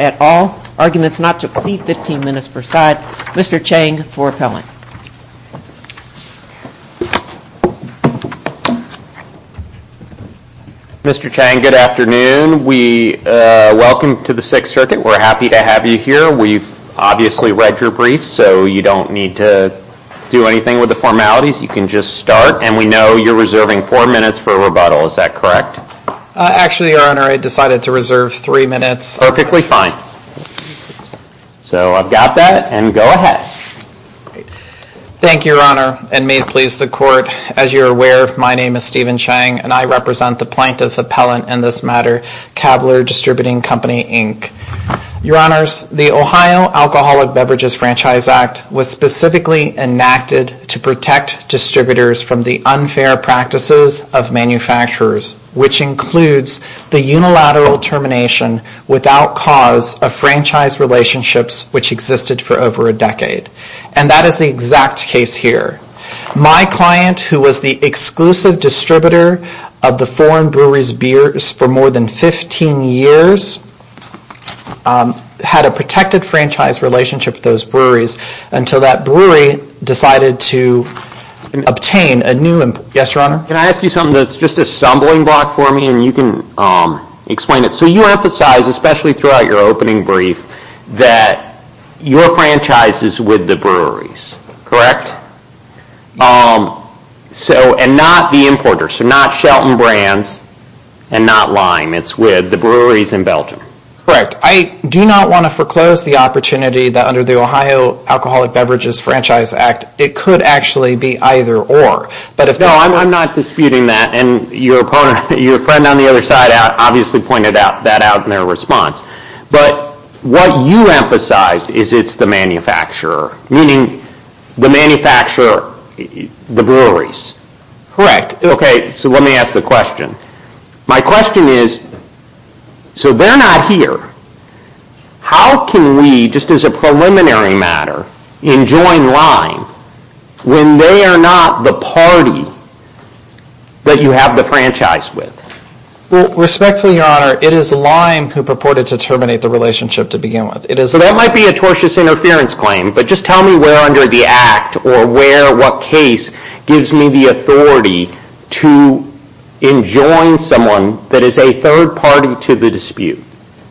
at all. Arguments not to exceed 15 minutes per side. Mr. Chang for appellant. Mr. Chang, good afternoon. Welcome to the Sixth Circuit. We're happy to have you here. We've obviously read your briefs, so you don't need to do anything with the formalities. You can just start. And we know you're reserving four minutes for rebuttal. Is that correct? Actually, Your Honor, I decided to reserve three minutes. Perfectly fine. So I've got that, and go ahead. Thank you, Your Honor, and may it please the Court, as you're aware, my name is Stephen Chang and I represent the plaintiff appellant in this matter, Cavalier Distributing Company, Inc. Your Honors, the Ohio Alcoholic Beverages Franchise Act was specifically enacted to protect distributors from the unfair practices of manufacturers, which includes the unilateral termination without cause of franchise relationships which existed for over a decade. And that is the exact case here. My client, who was the exclusive distributor of the foreign brewery's for more than 15 years, had a protected franchise relationship with those breweries until that brewery decided to obtain a new... Yes, Your Honor? Can I ask you something that's just a stumbling block for me and you can explain it? So you emphasize, especially throughout your opening brief, that your franchise is with the breweries, correct? And not the importers, so not Shelton Brands and not Lime, it's with the breweries in Belgium. Correct. I do not want to foreclose the opportunity that under the Ohio Alcoholic Beverages Franchise Act, it could actually be either or. No, I'm not disputing that, and your friend on the other side obviously pointed that out in their response. But what you emphasized is it's the manufacturer, meaning the manufacturer, the breweries. Correct. Okay, so let me ask the question. My question is, so they're not here. How can we, just as a preliminary matter, enjoin Lime when they are not the party that you have the franchise with? Well, respectfully, Your Honor, it is Lime who purported to terminate the relationship to begin with. So that might be a tortious interference claim, but just tell me where under the act or where or what case gives me the authority to enjoin someone that is a third party to the dispute.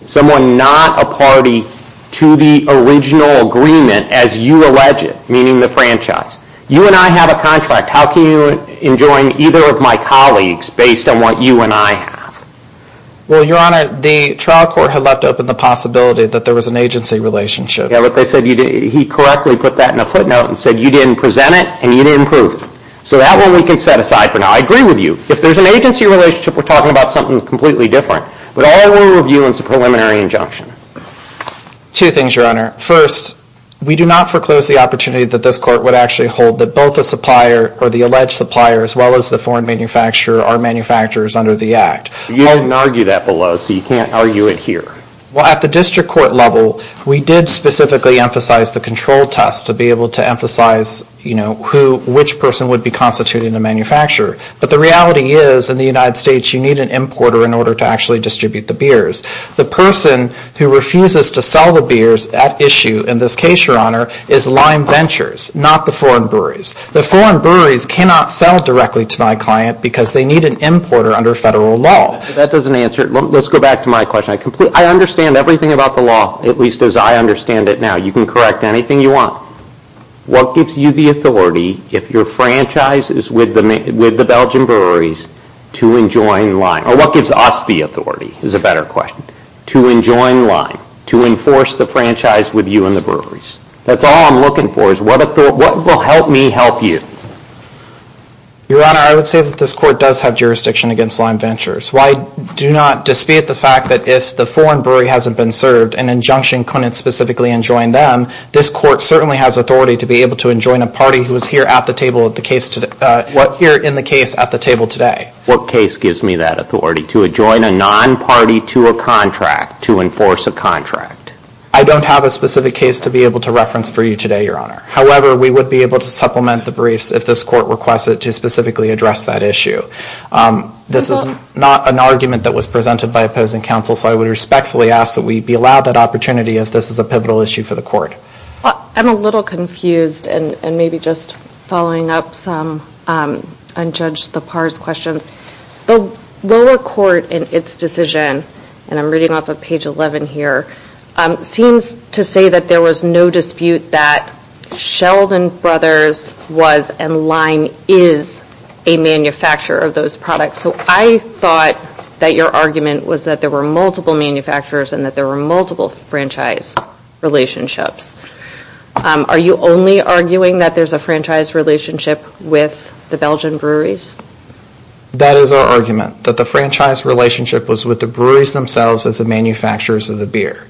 Someone not a party to the original agreement as you allege it, meaning the franchise. You and I have a contract. How can you enjoin either of my colleagues based on what you and I have? Well, Your Honor, the trial court had left open the possibility that there was an agency relationship. Yeah, but they said he correctly put that in a footnote and said you didn't present it and you didn't prove it. So that one we can set aside for now. I agree with you. If there's an agency relationship, we're talking about something completely different. But all I want to review is a preliminary injunction. Two things, Your Honor. First, we do not foreclose the opportunity that this court would actually hold that both the supplier or the alleged supplier as well as the foreign manufacturer are manufacturers under the act. You didn't argue that below, so you can't argue it here. Well, at the district court level, we did specifically emphasize the control test to be able to emphasize which person would be constituting the manufacturer. But the reality is in the United States, you need an importer in order to actually distribute the beers. The person who refuses to sell the beers at issue in this case, Your Honor, is Lime Ventures, not the foreign breweries. The foreign breweries cannot sell directly to my client because they need an importer under federal law. That doesn't answer it. Let's go back to my question. I understand everything about the law, at least as I understand it now. You can correct anything you want. What gives you the authority if your franchise is with the Belgian breweries to enjoin Lime? Or what gives us the authority, is a better question, to enjoin Lime, to enforce the franchise with you and the breweries? That's all I'm looking for, is what will help me help you? Your Honor, I would say that this court does have jurisdiction against Lime Ventures. Why do not dispute the fact that if the foreign brewery hasn't been served, an injunction couldn't specifically enjoin them, this court certainly has authority to be able to enjoin a party who is here in the case at the table today. What case gives me that authority, to enjoin a non-party to a contract, to enforce a contract? I don't have a specific case to be able to reference for you today, Your Honor. However, we would be able to supplement the briefs if this court requested to specifically address that issue. This is not an argument that was presented by opposing counsel, so I would respectfully ask that we be allowed that opportunity if this is a pivotal issue for the court. I'm a little confused, and maybe just following up some unjudged-the-pars questions. The lower court, in its decision, and I'm reading off of page 11 here, seems to say that there was no dispute that Sheldon Brothers was and Lime is a manufacturer of those products. So I thought that your argument was that there were multiple manufacturers and that there were multiple franchise relationships. Are you only arguing that there's a franchise relationship with the Belgian breweries? That is our argument, that the franchise relationship was with the breweries themselves as the manufacturers of the beer.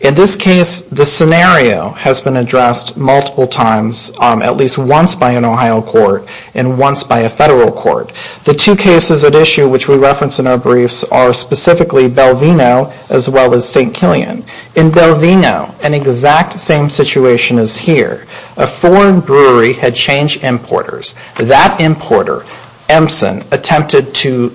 In this case, the scenario has been addressed multiple times, at least once by an Ohio court and once by a federal court. The two cases at issue which we reference in our briefs are specifically Belvino as well as St. Killian. In Belvino, an exact same situation is here. A foreign brewery had changed importers. That importer, Empson, attempted to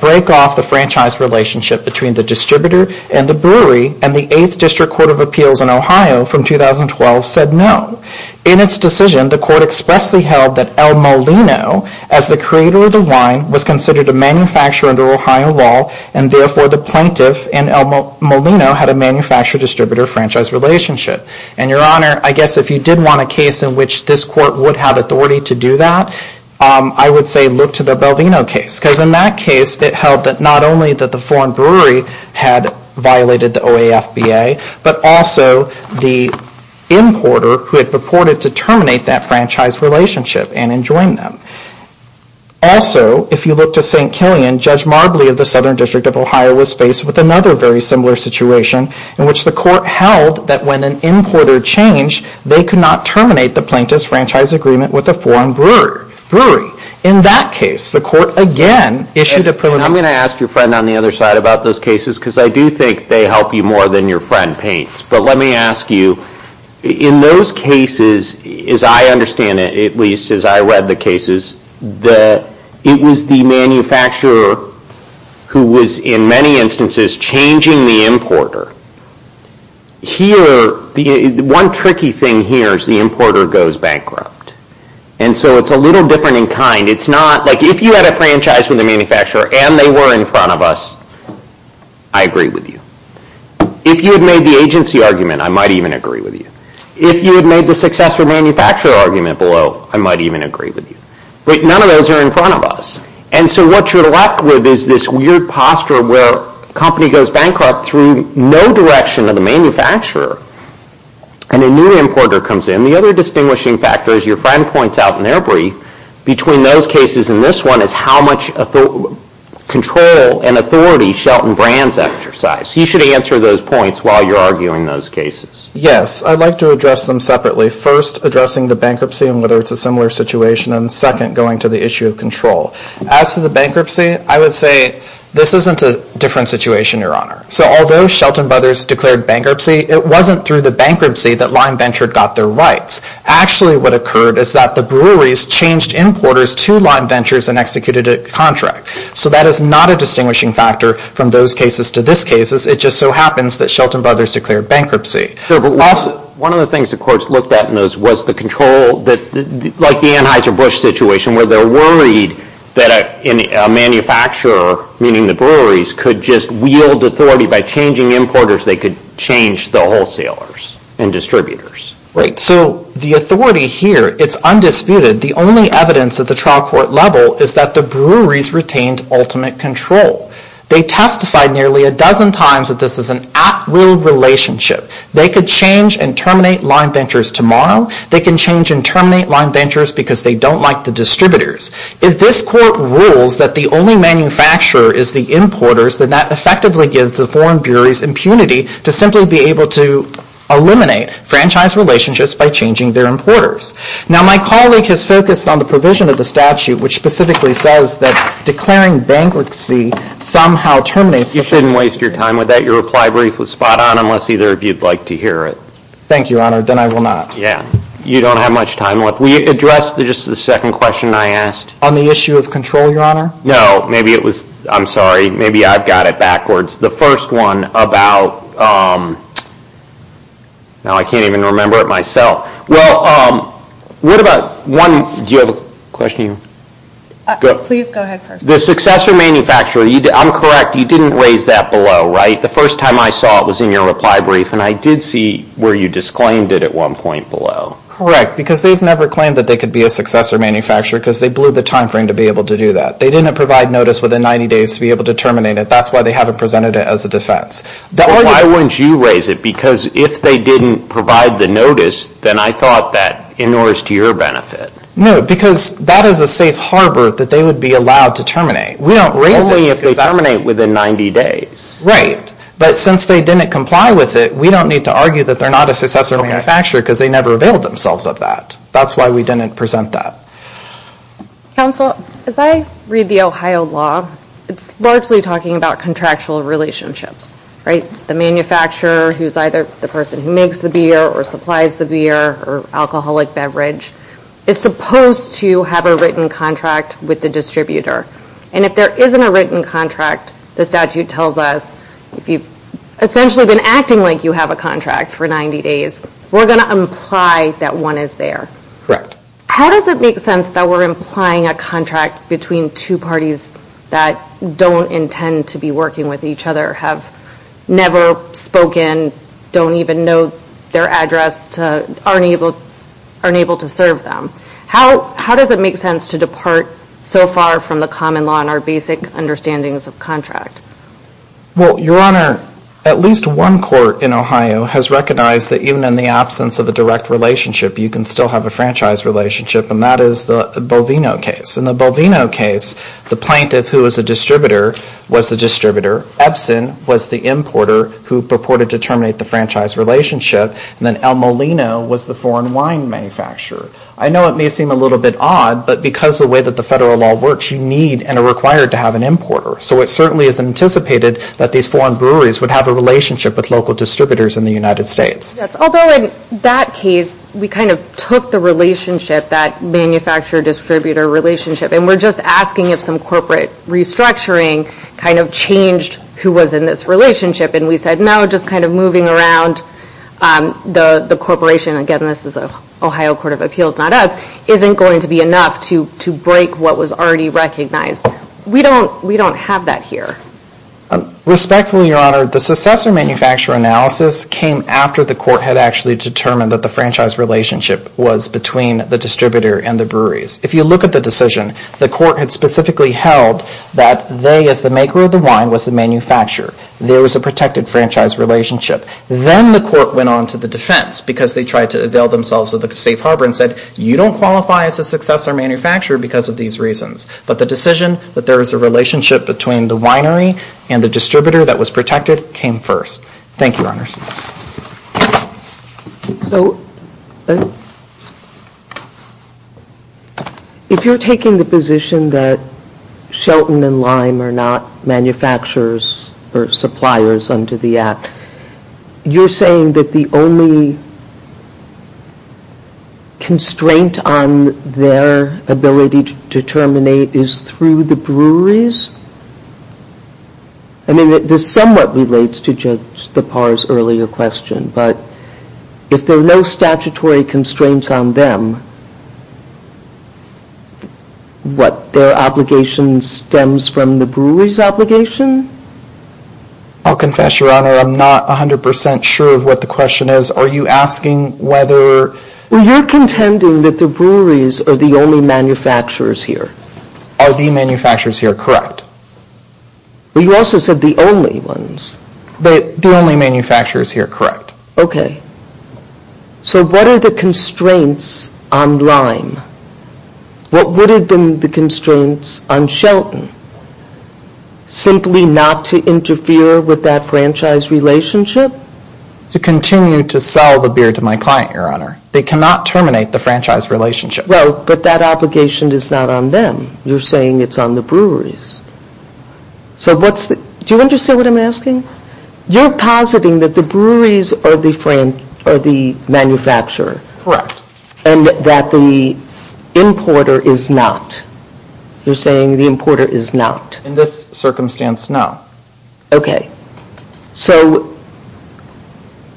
break off the franchise relationship between the distributor and the brewery, and the 8th District Court of Appeals in Ohio from 2012 said no. In its decision, the court expressly held that El Molino, as the creator of the wine, was considered a manufacturer under Ohio law, and therefore the plaintiff in El Molino had a manufacturer-distributor franchise relationship. Your Honor, I guess if you did want a case in which this court would have authority to do that, I would say look to the Belvino case. In that case, it held that not only that the foreign brewery had violated the OAFBA, but also the importer who had purported to terminate that franchise relationship and enjoin them. Also, if you look to St. Killian, Judge Marbley of the Southern District of Ohio was faced with another very similar situation in which the court held that when an importer changed, they could not terminate the plaintiff's franchise agreement with a foreign brewery. In that case, the court again issued a preliminary... I'm going to ask your friend on the other side about those cases because I do think they help you more than your friend paints. But let me ask you, in those cases, as I understand it, at least as I read the cases, it was the manufacturer who was in many instances changing the importer. One tricky thing here is the importer goes bankrupt. So it's a little different in kind. It's not like if you had a franchise with a manufacturer and they were in front of us, I agree with you. If you had made the agency argument, I might even agree with you. If you had made the successor manufacturer argument below, I might even agree with you. But none of those are in front of us. So what you're left with is this weird posture where the company goes bankrupt through no direction of the manufacturer and a new importer comes in. The other distinguishing factor, as your friend points out in their brief, between those cases and this one is how much control and authority Shelton Brands exercised. You should answer those points while you're arguing those cases. Yes. I'd like to address them separately. First, addressing the bankruptcy and whether it's a similar situation, and second, going to the issue of control. As to the bankruptcy, I would say this isn't a different situation, Your Honor. So although Shelton Brothers declared bankruptcy, it wasn't through the bankruptcy that Lime Ventures got their rights. Actually what occurred is that the breweries changed importers to Lime Ventures and executed a contract. So that is not a distinguishing factor from those cases to this case. It just so happens that Shelton Brothers declared bankruptcy. One of the things the courts looked at in those was the control, like the Anheuser-Busch situation where they're worried that a manufacturer, meaning the breweries, could just wield authority by changing importers. They could change the wholesalers and distributors. Right. So the authority here, it's undisputed. The only evidence at the trial court level is that the breweries retained ultimate control. They testified nearly a dozen times that this is an at-will relationship. They could change and terminate Lime Ventures tomorrow. They can change and terminate Lime Ventures because they don't like the distributors. If this court rules that the only manufacturer is the importers, then that effectively gives the foreign breweries impunity to simply be able to eliminate franchise relationships by changing their importers. Now my colleague has focused on the provision of the statute which specifically says that declaring bankruptcy somehow terminates the franchise. You shouldn't waste your time with that. Your reply brief was spot on unless either of you'd like to hear it. Thank you, Your Honor. Then I will not. Yeah. You don't have much time left. Will you address just the second question I asked? On the issue of control, Your Honor? No. Maybe it was, I'm sorry, maybe I've got it backwards. The first one about, now I can't even remember it myself. Well, what about one, do you have a question? Please go ahead first. The successor manufacturer, I'm correct, you didn't raise that below, right? The first time I saw it was in your reply brief and I did see where you disclaimed it at one point below. Correct. Because they've never claimed that they could be a successor manufacturer because they blew the time frame to be able to do that. They didn't provide notice within 90 days to be able to terminate it. That's why they haven't presented it as a defense. Then why wouldn't you raise it? Because if they didn't provide the notice, then I thought that in order to your benefit. No. Because that is a safe harbor that they would be allowed to terminate. We don't raise it because that... Only if they terminate within 90 days. Right. But since they didn't comply with it, we don't need to argue that they're not a successor manufacturer because they never availed themselves of that. That's why we didn't present that. Counsel, as I read the Ohio law, it's largely talking about contractual relationships, right? The manufacturer who's either the person who makes the beer or supplies the beer or alcoholic beverage is supposed to have a written contract with the distributor. And if there isn't a written contract, the statute tells us if you've essentially been acting like you have a contract for 90 days, we're going to imply that one is there. Correct. How does it make sense that we're implying a contract between two parties that don't intend to be working with each other, have never spoken, don't even know their address, aren't able to serve them? How does it make sense to depart so far from the common law on our basic understandings of contract? Well, Your Honor, at least one court in Ohio has recognized that even in the absence of a direct relationship, you can still have a franchise relationship, and that is the Bovino case. In the Bovino case, the plaintiff who is a distributor was the distributor. Epson was the importer who purported to terminate the franchise relationship. And then El Molino was the foreign wine manufacturer. I know it may seem a little bit odd, but because of the way that the federal law works, you need and are required to have an importer. So it certainly is anticipated that these foreign breweries would have a relationship with local distributors in the United States. Yes, although in that case, we kind of took the relationship, that manufacturer-distributor relationship, and we're just asking if some corporate restructuring kind of changed who was in this relationship. And we said, no, just kind of moving around the corporation, again, this is the Ohio Court of Appeals, not us, isn't going to be enough to break what was already recognized. We don't have that here. Respectfully, Your Honor, the successor manufacturer analysis came after the court had actually determined that the franchise relationship was between the distributor and the breweries. If you look at the decision, the court had specifically held that they, as the maker of the wine, was the manufacturer. There was a protected franchise relationship. Then the court went on to the defense because they tried to avail themselves of the safe harbor and said, you don't qualify as a successor manufacturer because of these reasons. But the decision that there is a relationship between the winery and the distributor that was protected came first. Thank you, Your Honors. If you're taking the position that Shelton and Lime are not manufacturers or suppliers under the Act, you're saying that the only constraint on their ability to terminate is through the breweries? I mean, this somewhat relates to Judge Tappar's earlier question, but if there are no statutory constraints on them, what, their obligation stems from the breweries' obligation? I'll confess, Your Honor, I'm not 100% sure of what the question is. Are you asking whether... Well, you're contending that the breweries are the only manufacturers here. Are the manufacturers here, correct? Well, you also said the only ones. The only manufacturers here, correct. Okay. So what are the constraints on Lime? What would have been the constraints on Shelton? Simply not to interfere with that franchise relationship? To continue to sell the beer to my client, Your Honor. They cannot terminate the franchise relationship. Well, but that obligation is not on them. You're saying it's on the breweries. So what's the... Do you understand what I'm asking? You're positing that the breweries are the manufacturer. Correct. And that the importer is not. You're saying the importer is not. In this circumstance, no. Okay. So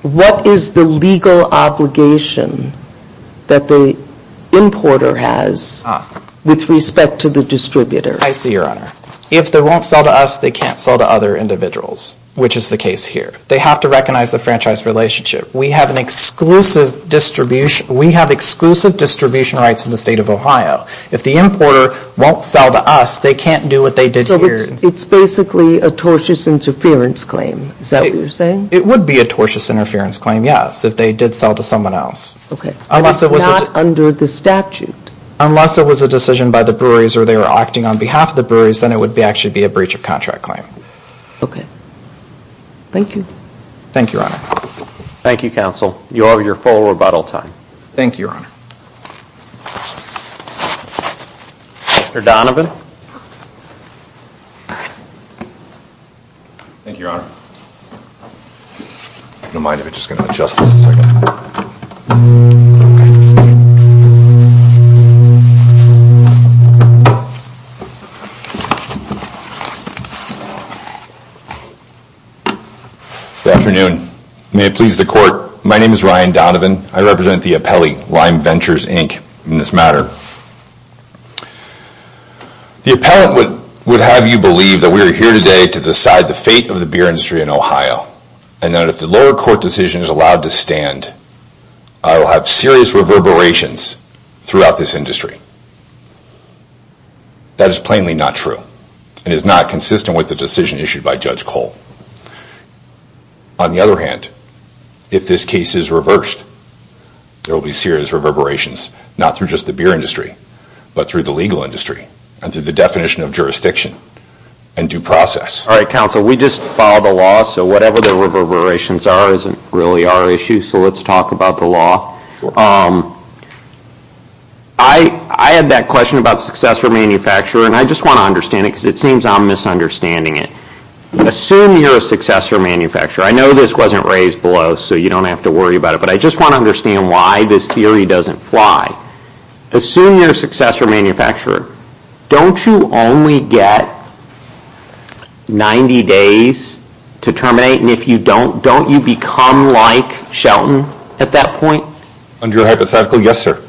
what is the legal obligation that the importer has with respect to the distributor? I see, Your Honor. If they won't sell to us, they can't sell to other individuals, which is the case here. They have to recognize the franchise relationship. We have an exclusive distribution... We have exclusive distribution rights in the state of Ohio. If the importer won't sell to us, they can't do what they did here. It's basically a tortious interference claim. Is that what you're saying? It would be a tortious interference claim, yes, if they did sell to someone else. Okay. But it's not under the statute. Unless it was a decision by the breweries or they were acting on behalf of the breweries, then it would actually be a breach of contract claim. Okay. Thank you. Thank you, Your Honor. Thank you, Counsel. You have your full rebuttal time. Thank you, Your Honor. Mr. Donovan? Thank you, Your Honor. If you don't mind, I'm just going to adjust this a second. Good afternoon. May it please the Court, my name is Ryan Donovan. I represent the appellee, Lime Ventures, Inc. in this matter. The appellant would have you believe that we are here today to decide the fate of the beer industry in Ohio and that if the lower court decision is allowed to stand, I will have serious reverberations throughout this industry. That is plainly not true. It is not consistent with the decision issued by Judge Cole. On the other hand, if this case is reversed, there will be serious reverberations, not through just the beer industry, but through the legal industry and through the definition of jurisdiction and due process. All right, Counsel. We just filed a law, so whatever the reverberations are isn't really our issue, so let's talk about the law. I had that question about successor manufacturer and I just want to understand it because it seems I'm misunderstanding it. Assume you're a successor manufacturer. I know this wasn't raised below, so you don't have to worry about it, but I just want to understand why this theory doesn't fly. Assume you're a successor manufacturer. Don't you only get 90 days to terminate and if you don't, don't you become like Shelton at that point? Under hypothetical, yes, sir.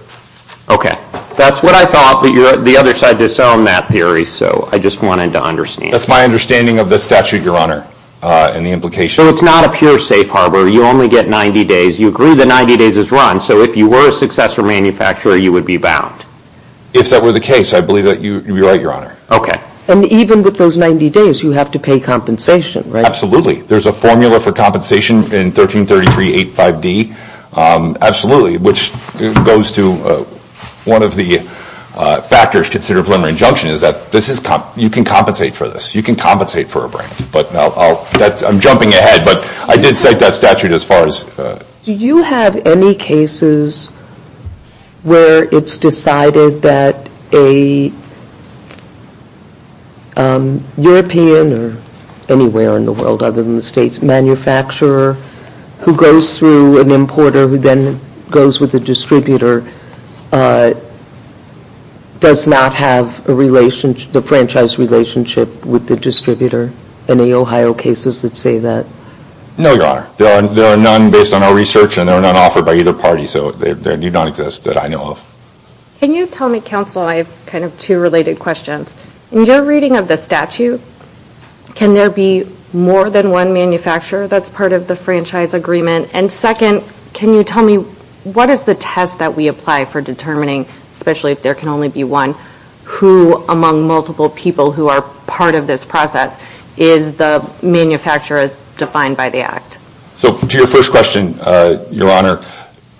Okay. That's what I thought, but the other side disowned that theory, so I just wanted to understand. That's my understanding of the statute, Your Honor, and the implication. So it's not a pure safe harbor. You only get 90 days. You agree that 90 days is run, so if you were a successor manufacturer, you would be bound? If that were the case, I believe that you would be right, Your Honor. Okay. And even with those 90 days, you have to pay compensation, right? Absolutely. There's a formula for compensation in 1333.85d, absolutely, which goes to the one of the factors considered preliminary injunction is that this is, you can compensate for this. You can compensate for a break, but I'm jumping ahead, but I did cite that statute as far as... Do you have any cases where it's decided that a European or anywhere in the world other than the state's manufacturer who goes through an importer who then goes with the distributor does not have the franchise relationship with the distributor? Any Ohio cases that say that? No, Your Honor. There are none based on our research, and there are none offered by either party, so they do not exist that I know of. Can you tell me, Counsel, I have kind of two related questions. In your reading of the one manufacturer that's part of the franchise agreement, and second, can you tell me what is the test that we apply for determining, especially if there can only be one, who among multiple people who are part of this process, is the manufacturer as defined by the act? So to your first question, Your Honor,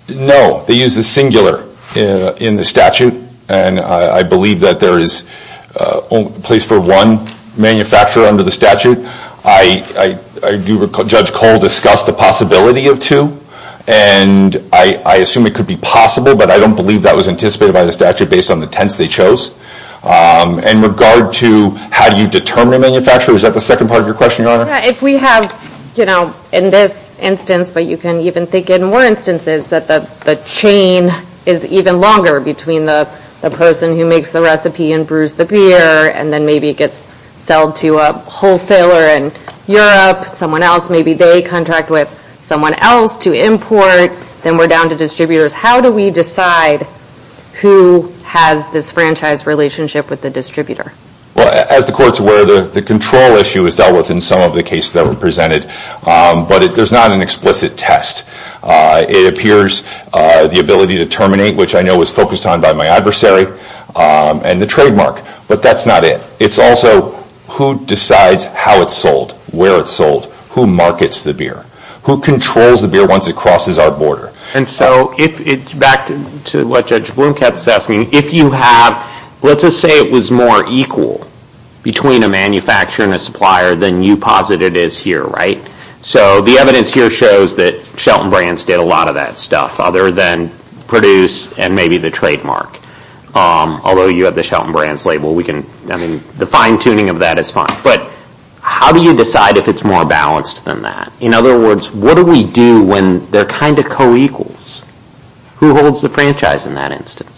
no. They use the singular in the statute, and I believe that there is a place for one manufacturer under the statute. I do recall Judge Cole discussed the possibility of two, and I assume it could be possible, but I don't believe that was anticipated by the statute based on the tense they chose. In regard to how do you determine a manufacturer, is that the second part of your question, Your Honor? If we have, you know, in this instance, but you can even think in more instances, that the chain is even longer between the person who makes the recipe and brews the beer, and then maybe gets sold to a wholesaler in Europe, someone else, maybe they contract with someone else to import, then we're down to distributors. How do we decide who has this franchise relationship with the distributor? As the Court's aware, the control issue is dealt with in some of the cases that were brought up, the ability to terminate, which I know was focused on by my adversary, and the trademark, but that's not it. It's also who decides how it's sold, where it's sold, who markets the beer, who controls the beer once it crosses our border. And so, back to what Judge Blomkamp is asking, if you have, let's just say it was more equal between a manufacturer and a supplier than you posited it is here, right? So the evidence here shows that Shelton Brands did a lot of that stuff, other than produce and maybe the trademark. Although you have the Shelton Brands label, we can, I mean, the fine-tuning of that is fine. But how do you decide if it's more balanced than that? In other words, what do we do when they're kind of co-equals? Who holds the franchise in that instance?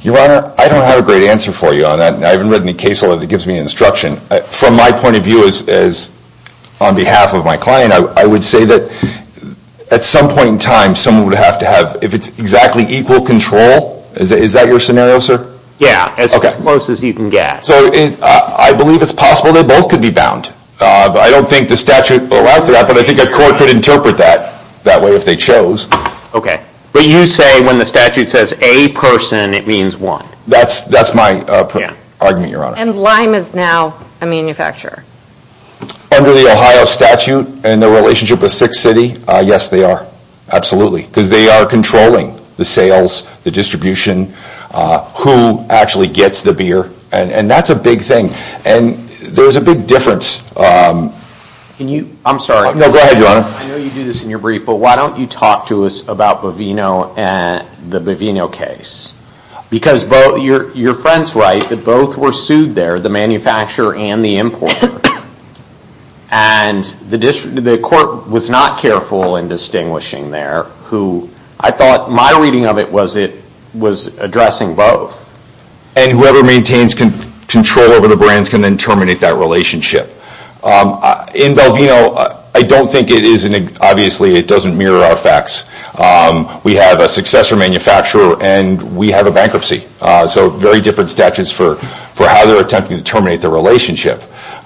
Your Honor, I don't have a great answer for you on that. I haven't read any case law that gives me instruction. From my point of view, as on behalf of my client, I would say that at some point in time, someone would have to have, if it's exactly equal control, is that your scenario, sir? Yeah, as close as you can get. So I believe it's possible they both could be bound. I don't think the statute allows for that, but I think a court could interpret that that way if they chose. Okay. But you say when the statute says a person, it means one? That's my argument, Your Honor. And Lime is now a manufacturer? Under the Ohio statute and the relationship with Sixth City, yes, they are. Absolutely. Because they are controlling the sales, the distribution, who actually gets the beer, and that's a big thing. And there's a big difference. I'm sorry. No, go ahead, Your Honor. I know you do this in your brief, but why don't you talk to us about Bovino and the Bovino case? Because your friend's right that both were sued there, the manufacturer and the importer. And the court was not careful in distinguishing there. I thought my reading of it was it was addressing both. And whoever maintains control over the brands can then terminate that relationship. In Bovino, I don't think it is, obviously it doesn't mirror our facts. We have a successor manufacturer and we have a bankruptcy. So very different statutes for how they're attempting to terminate the relationship.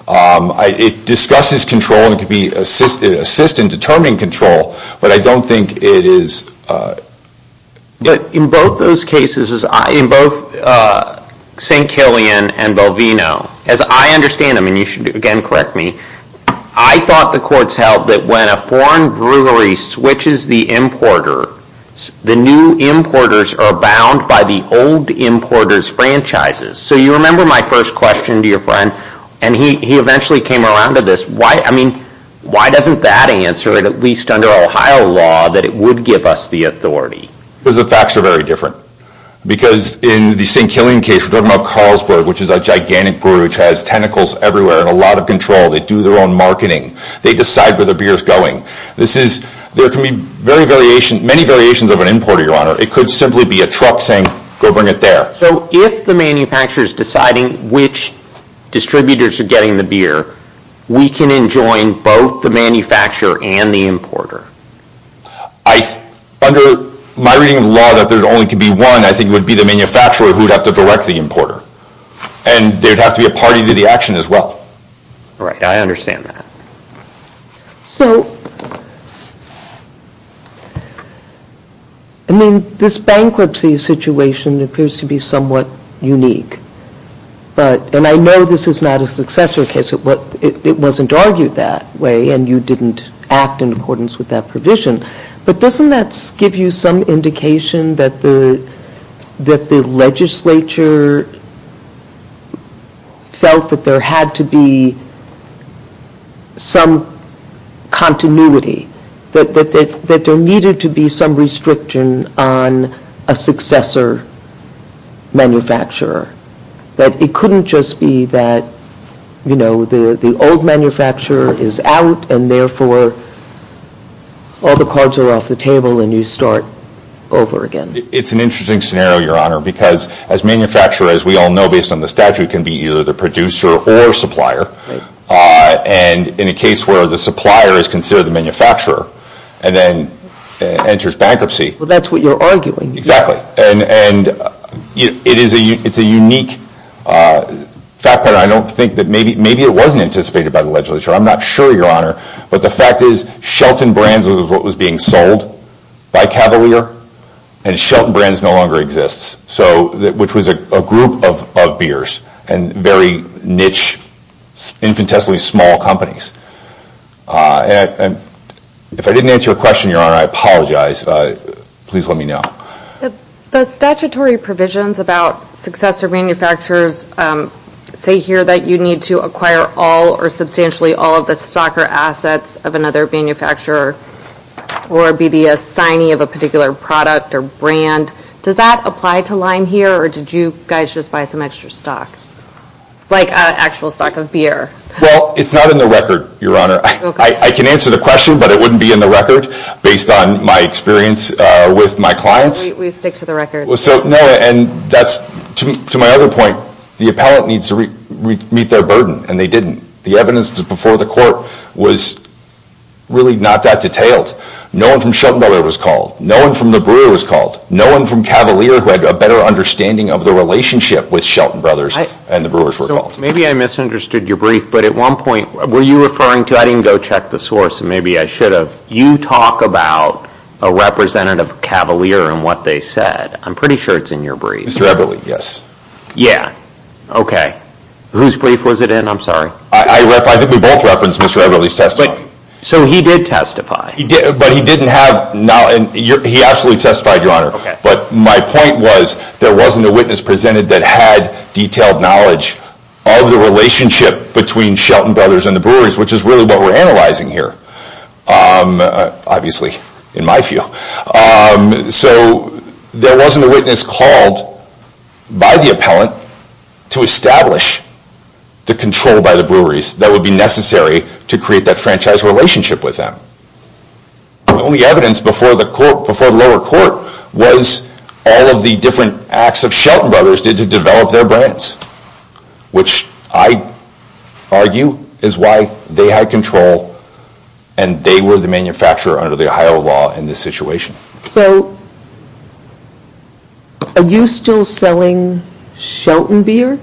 It discusses control and can assist in determining control, but I don't think it is... But in both those cases, in both St. Killian and Bovino, as I understand them, and you should again correct me, I thought the courts held that when a foreign brewery switches the importer, the new importers are bound by the old importer's franchises. So you remember my first question to your friend, and he eventually came around to this. I mean, why doesn't that answer it, at least under Ohio law, that it would give us the authority? Because the facts are very different. Because in the St. Killian case, we're talking about Salzburg, which is a gigantic brewery, which has tentacles everywhere and a lot of control. They do their own marketing. They decide where their beer is going. There can be many variations of an importer, your honor. It could simply be a truck saying, go bring it there. So if the manufacturer is deciding which distributors are getting the beer, we can enjoin both the manufacturer and the importer? Under my reading of the law, that there only can be one, I think it would be the manufacturer who would have to direct the importer. And there would have to be a party to the action as well. Right, I understand that. So, I mean, this bankruptcy situation appears to be somewhat unique. But, and I know this is not a successor case. It wasn't argued that way, and you didn't act in accordance with that provision. But doesn't that give you some indication that the legislature felt that there had to be some continuity? That there needed to be some restriction on a successor manufacturer? That it couldn't just be that, you know, the old manufacturer is out and therefore all the cards are off the table and you start over again. It's an interesting scenario, your honor, because as manufacturers, we all know based on the statute, can be either the producer or supplier. And in a case where the supplier is considered the manufacturer and then enters bankruptcy. That's what you're arguing. Exactly. And it's a unique fact pattern. I don't think that maybe it wasn't anticipated by the legislature. I'm not sure, your honor. But the fact is, Shelton Brands was what was being sold by Cavalier and Shelton Brands no longer exists. So, which was a group of beers and very niche, infinitesimally small companies. If I didn't answer your question, your honor, I apologize. Please let me know. The statutory provisions about successor manufacturers say here that you need to acquire all or substantially all of the stock or assets of another manufacturer or be the assignee of a particular product or brand. Does that apply to Lime here or did you guys just buy some extra stock? Like actual stock of beer? Well, it's not in the record, your honor. I can answer the question, but it wouldn't be in the record based on my experience with my clients. We stick to the record. So, no, and that's, to my other point, the appellate needs to meet their burden and they didn't. The evidence before the court was really not that detailed. No one from Shelton Brothers was called. No one from the brewer was called. No one from Cavalier who had a better understanding of the relationship with Shelton Brothers and the brewers were called. Maybe I misunderstood your brief, but at one point, were you referring to, I didn't go check the source and maybe I should have, you talk about a representative of Cavalier and what they said. I'm pretty sure it's in your brief. Mr. Eberle, yes. Yeah, okay. Whose brief was it in? I'm sorry. I think we both referenced Mr. Eberle's testimony. So he did testify? He did, but he didn't have, he absolutely testified, your honor. But my point was there wasn't a witness presented that had detailed knowledge of the relationship between Shelton Brothers and the brewers, which is really what we're analyzing here. Obviously, in my view. So there wasn't a witness called by the appellant to establish the control by the breweries that would be necessary to create that franchise relationship with them. The only evidence before the lower court was all of the different acts of Shelton Brothers did to develop their brands, which I argue is why they had control and they were the manufacturer under the Ohio law in this situation. So are you still selling Shelton beer?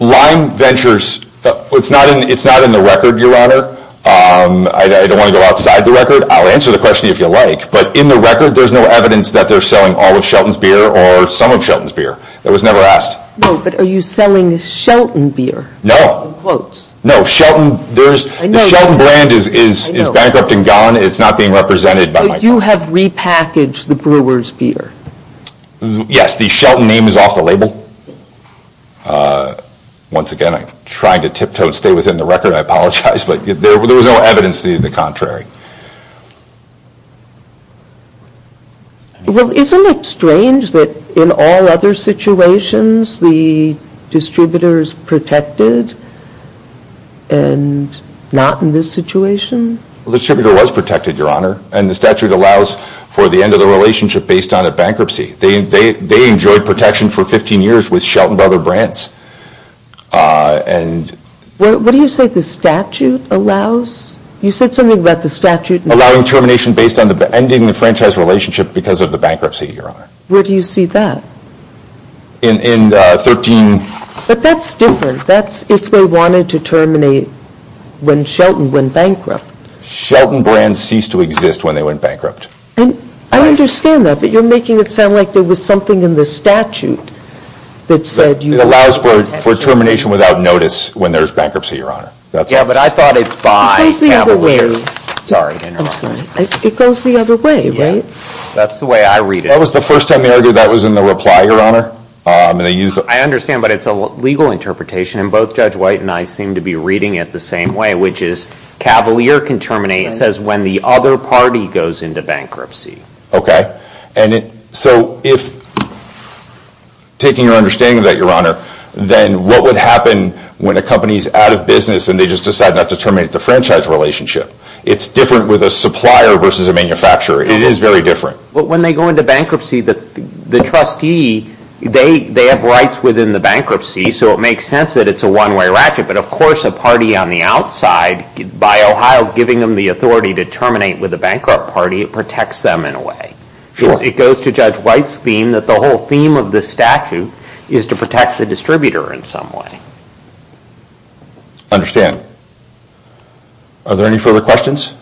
Lime Ventures, it's not in the record, your honor. I don't want to go outside the record. I'll answer the question if you like, but in the record, there's no evidence that they're selling all of Shelton's beer or some of Shelton's beer. That was never asked. No, but are you selling Shelton beer? No. In quotes. In quotes. No, Shelton, the Shelton brand is bankrupt and gone. It's not being represented by my But you have repackaged the brewer's beer. Yes, the Shelton name is off the label. Once again, I'm trying to tiptoe and stay within the record. I apologize, but there was no evidence to the contrary. Well, isn't it strange that in all other situations, the distributors protected and not in this situation? Well, the distributor was protected, your honor, and the statute allows for the end of the relationship based on a bankruptcy. They enjoyed protection for 15 years with Shelton Brother Brands. What do you say the statute allows? You said something about the statute. Allowing termination based on ending the franchise relationship because of the bankruptcy, your Where do you see that? In 13... But that's different. That's if they wanted to terminate when Shelton went bankrupt. Shelton Brands ceased to exist when they went bankrupt. I understand that, but you're making it sound like there was something in the statute that said you allowed for termination without notice when there's bankruptcy, your honor. Yeah, but I thought it's by Cavalier. It goes the other way, right? That's the way I read it. That was the first time they argued that was in the reply, your honor. I understand, but it's a legal interpretation, and both Judge White and I seem to be reading it the same way, which is Cavalier can terminate, it says, when the other party goes into bankruptcy. Okay, so if, taking your understanding of that, your honor, then what would happen when a company's out of business and they just decide not to terminate the franchise relationship? It's different with a supplier versus a manufacturer, it is very different. When they go into bankruptcy, the trustee, they have rights within the bankruptcy, so it makes sense that it's a one-way ratchet, but of course a party on the outside, by Ohio giving them the authority to terminate with a bankrupt party, it protects them in a way. It goes to Judge White's theme that the whole theme of this statute is to protect the distributor in some way. I understand. Are there any further questions?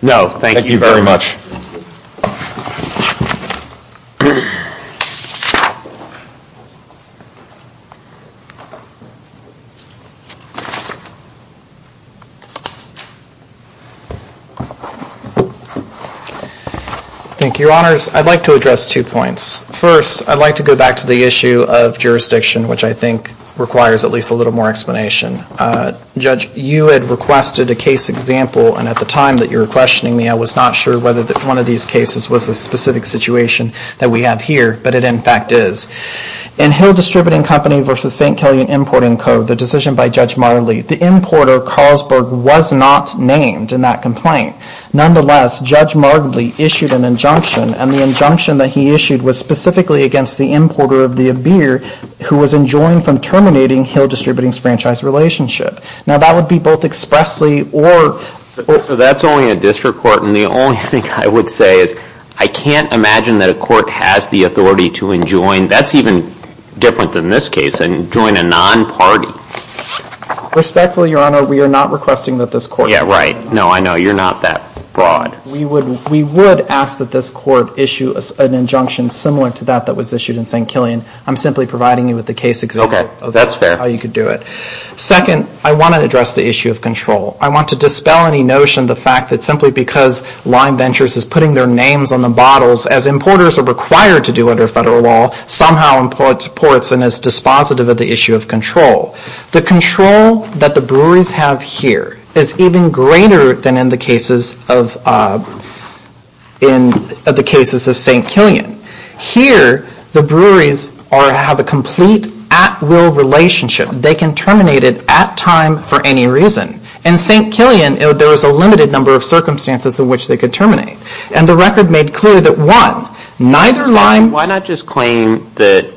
No, thank you very much. Thank you, your honors. I'd like to address two points. First, I'd like to go back to the issue of jurisdiction, which I think requires at least a little more explanation. Judge, you had requested a case example, and at the time that you were questioning me, I was not sure whether one of these cases was a specific situation that we have here, but it, in fact, is. In Hill Distributing Company v. St. Kelly in Import and Code, the decision by Judge Marley, the importer, Carlsberg, was not named in that complaint. Nonetheless, Judge Marley issued an injunction, and the injunction that he issued was specifically against the importer of the beer who was enjoined from terminating Hill Distributing's franchise relationship. Now, that would be both expressly or... So that's only a district court, and the only thing I would say is I can't imagine that a court has the authority to enjoin, that's even different than this case, enjoin a non-party. Respectfully, Your Honor, we are not requesting that this court... Yeah, right. No, I know. You're not that broad. We would ask that this court issue an injunction similar to that that was issued in St. Kelly, and I'm simply providing you with the case example... That's fair. ...of how you could do it. Second, I want to address the issue of control. I want to dispel any notion of the fact that simply because Lime Ventures is putting their names on the bottles, as importers are required to do under federal law, somehow imports and is dispositive of the issue of control. The control that the breweries have here is even greater than in the cases of St. Killian. Here, the breweries have a complete at-will relationship. They can terminate it at time for any reason. In St. Killian, there was a limited number of circumstances in which they could terminate, and the record made clear that one, neither Lime... Why not just claim that...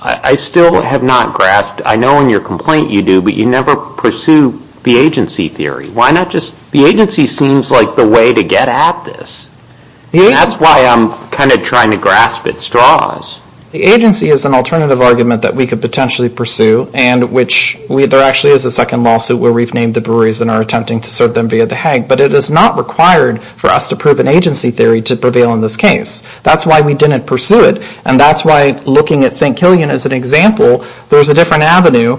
I still have not grasped... I know in your complaint you do, but you never pursue the agency theory. Why not just... The agency seems like the way to get at this. That's why I'm kind of trying to grasp at straws. The agency is an alternative argument that we could potentially pursue, and which... There actually is a second lawsuit where we've named the breweries and are attempting to serve them via the Hague, but it is not required for us to prove an agency theory to prevail in this case. That's why we didn't pursue it, and that's why looking at St. Killian as an example, there's a different avenue.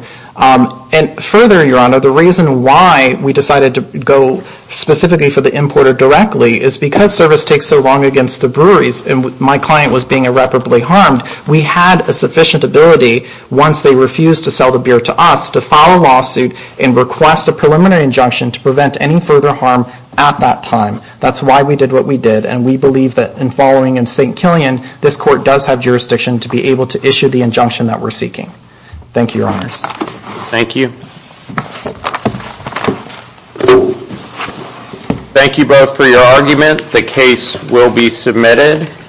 Further, Your Honor, the reason why we decided to go specifically for the importer directly is because service takes so long against the breweries, and my client was being irreparably harmed. We had a sufficient ability, once they refused to sell the beer to us, to file a lawsuit and request a preliminary injunction to prevent any further harm at that time. That's why we did what we did, and we believe that in following in St. Killian, this court does have jurisdiction to be able to issue the injunction that we're seeking. Thank you, Your Honors. Thank you. Thank you both for your argument. The case will be submitted.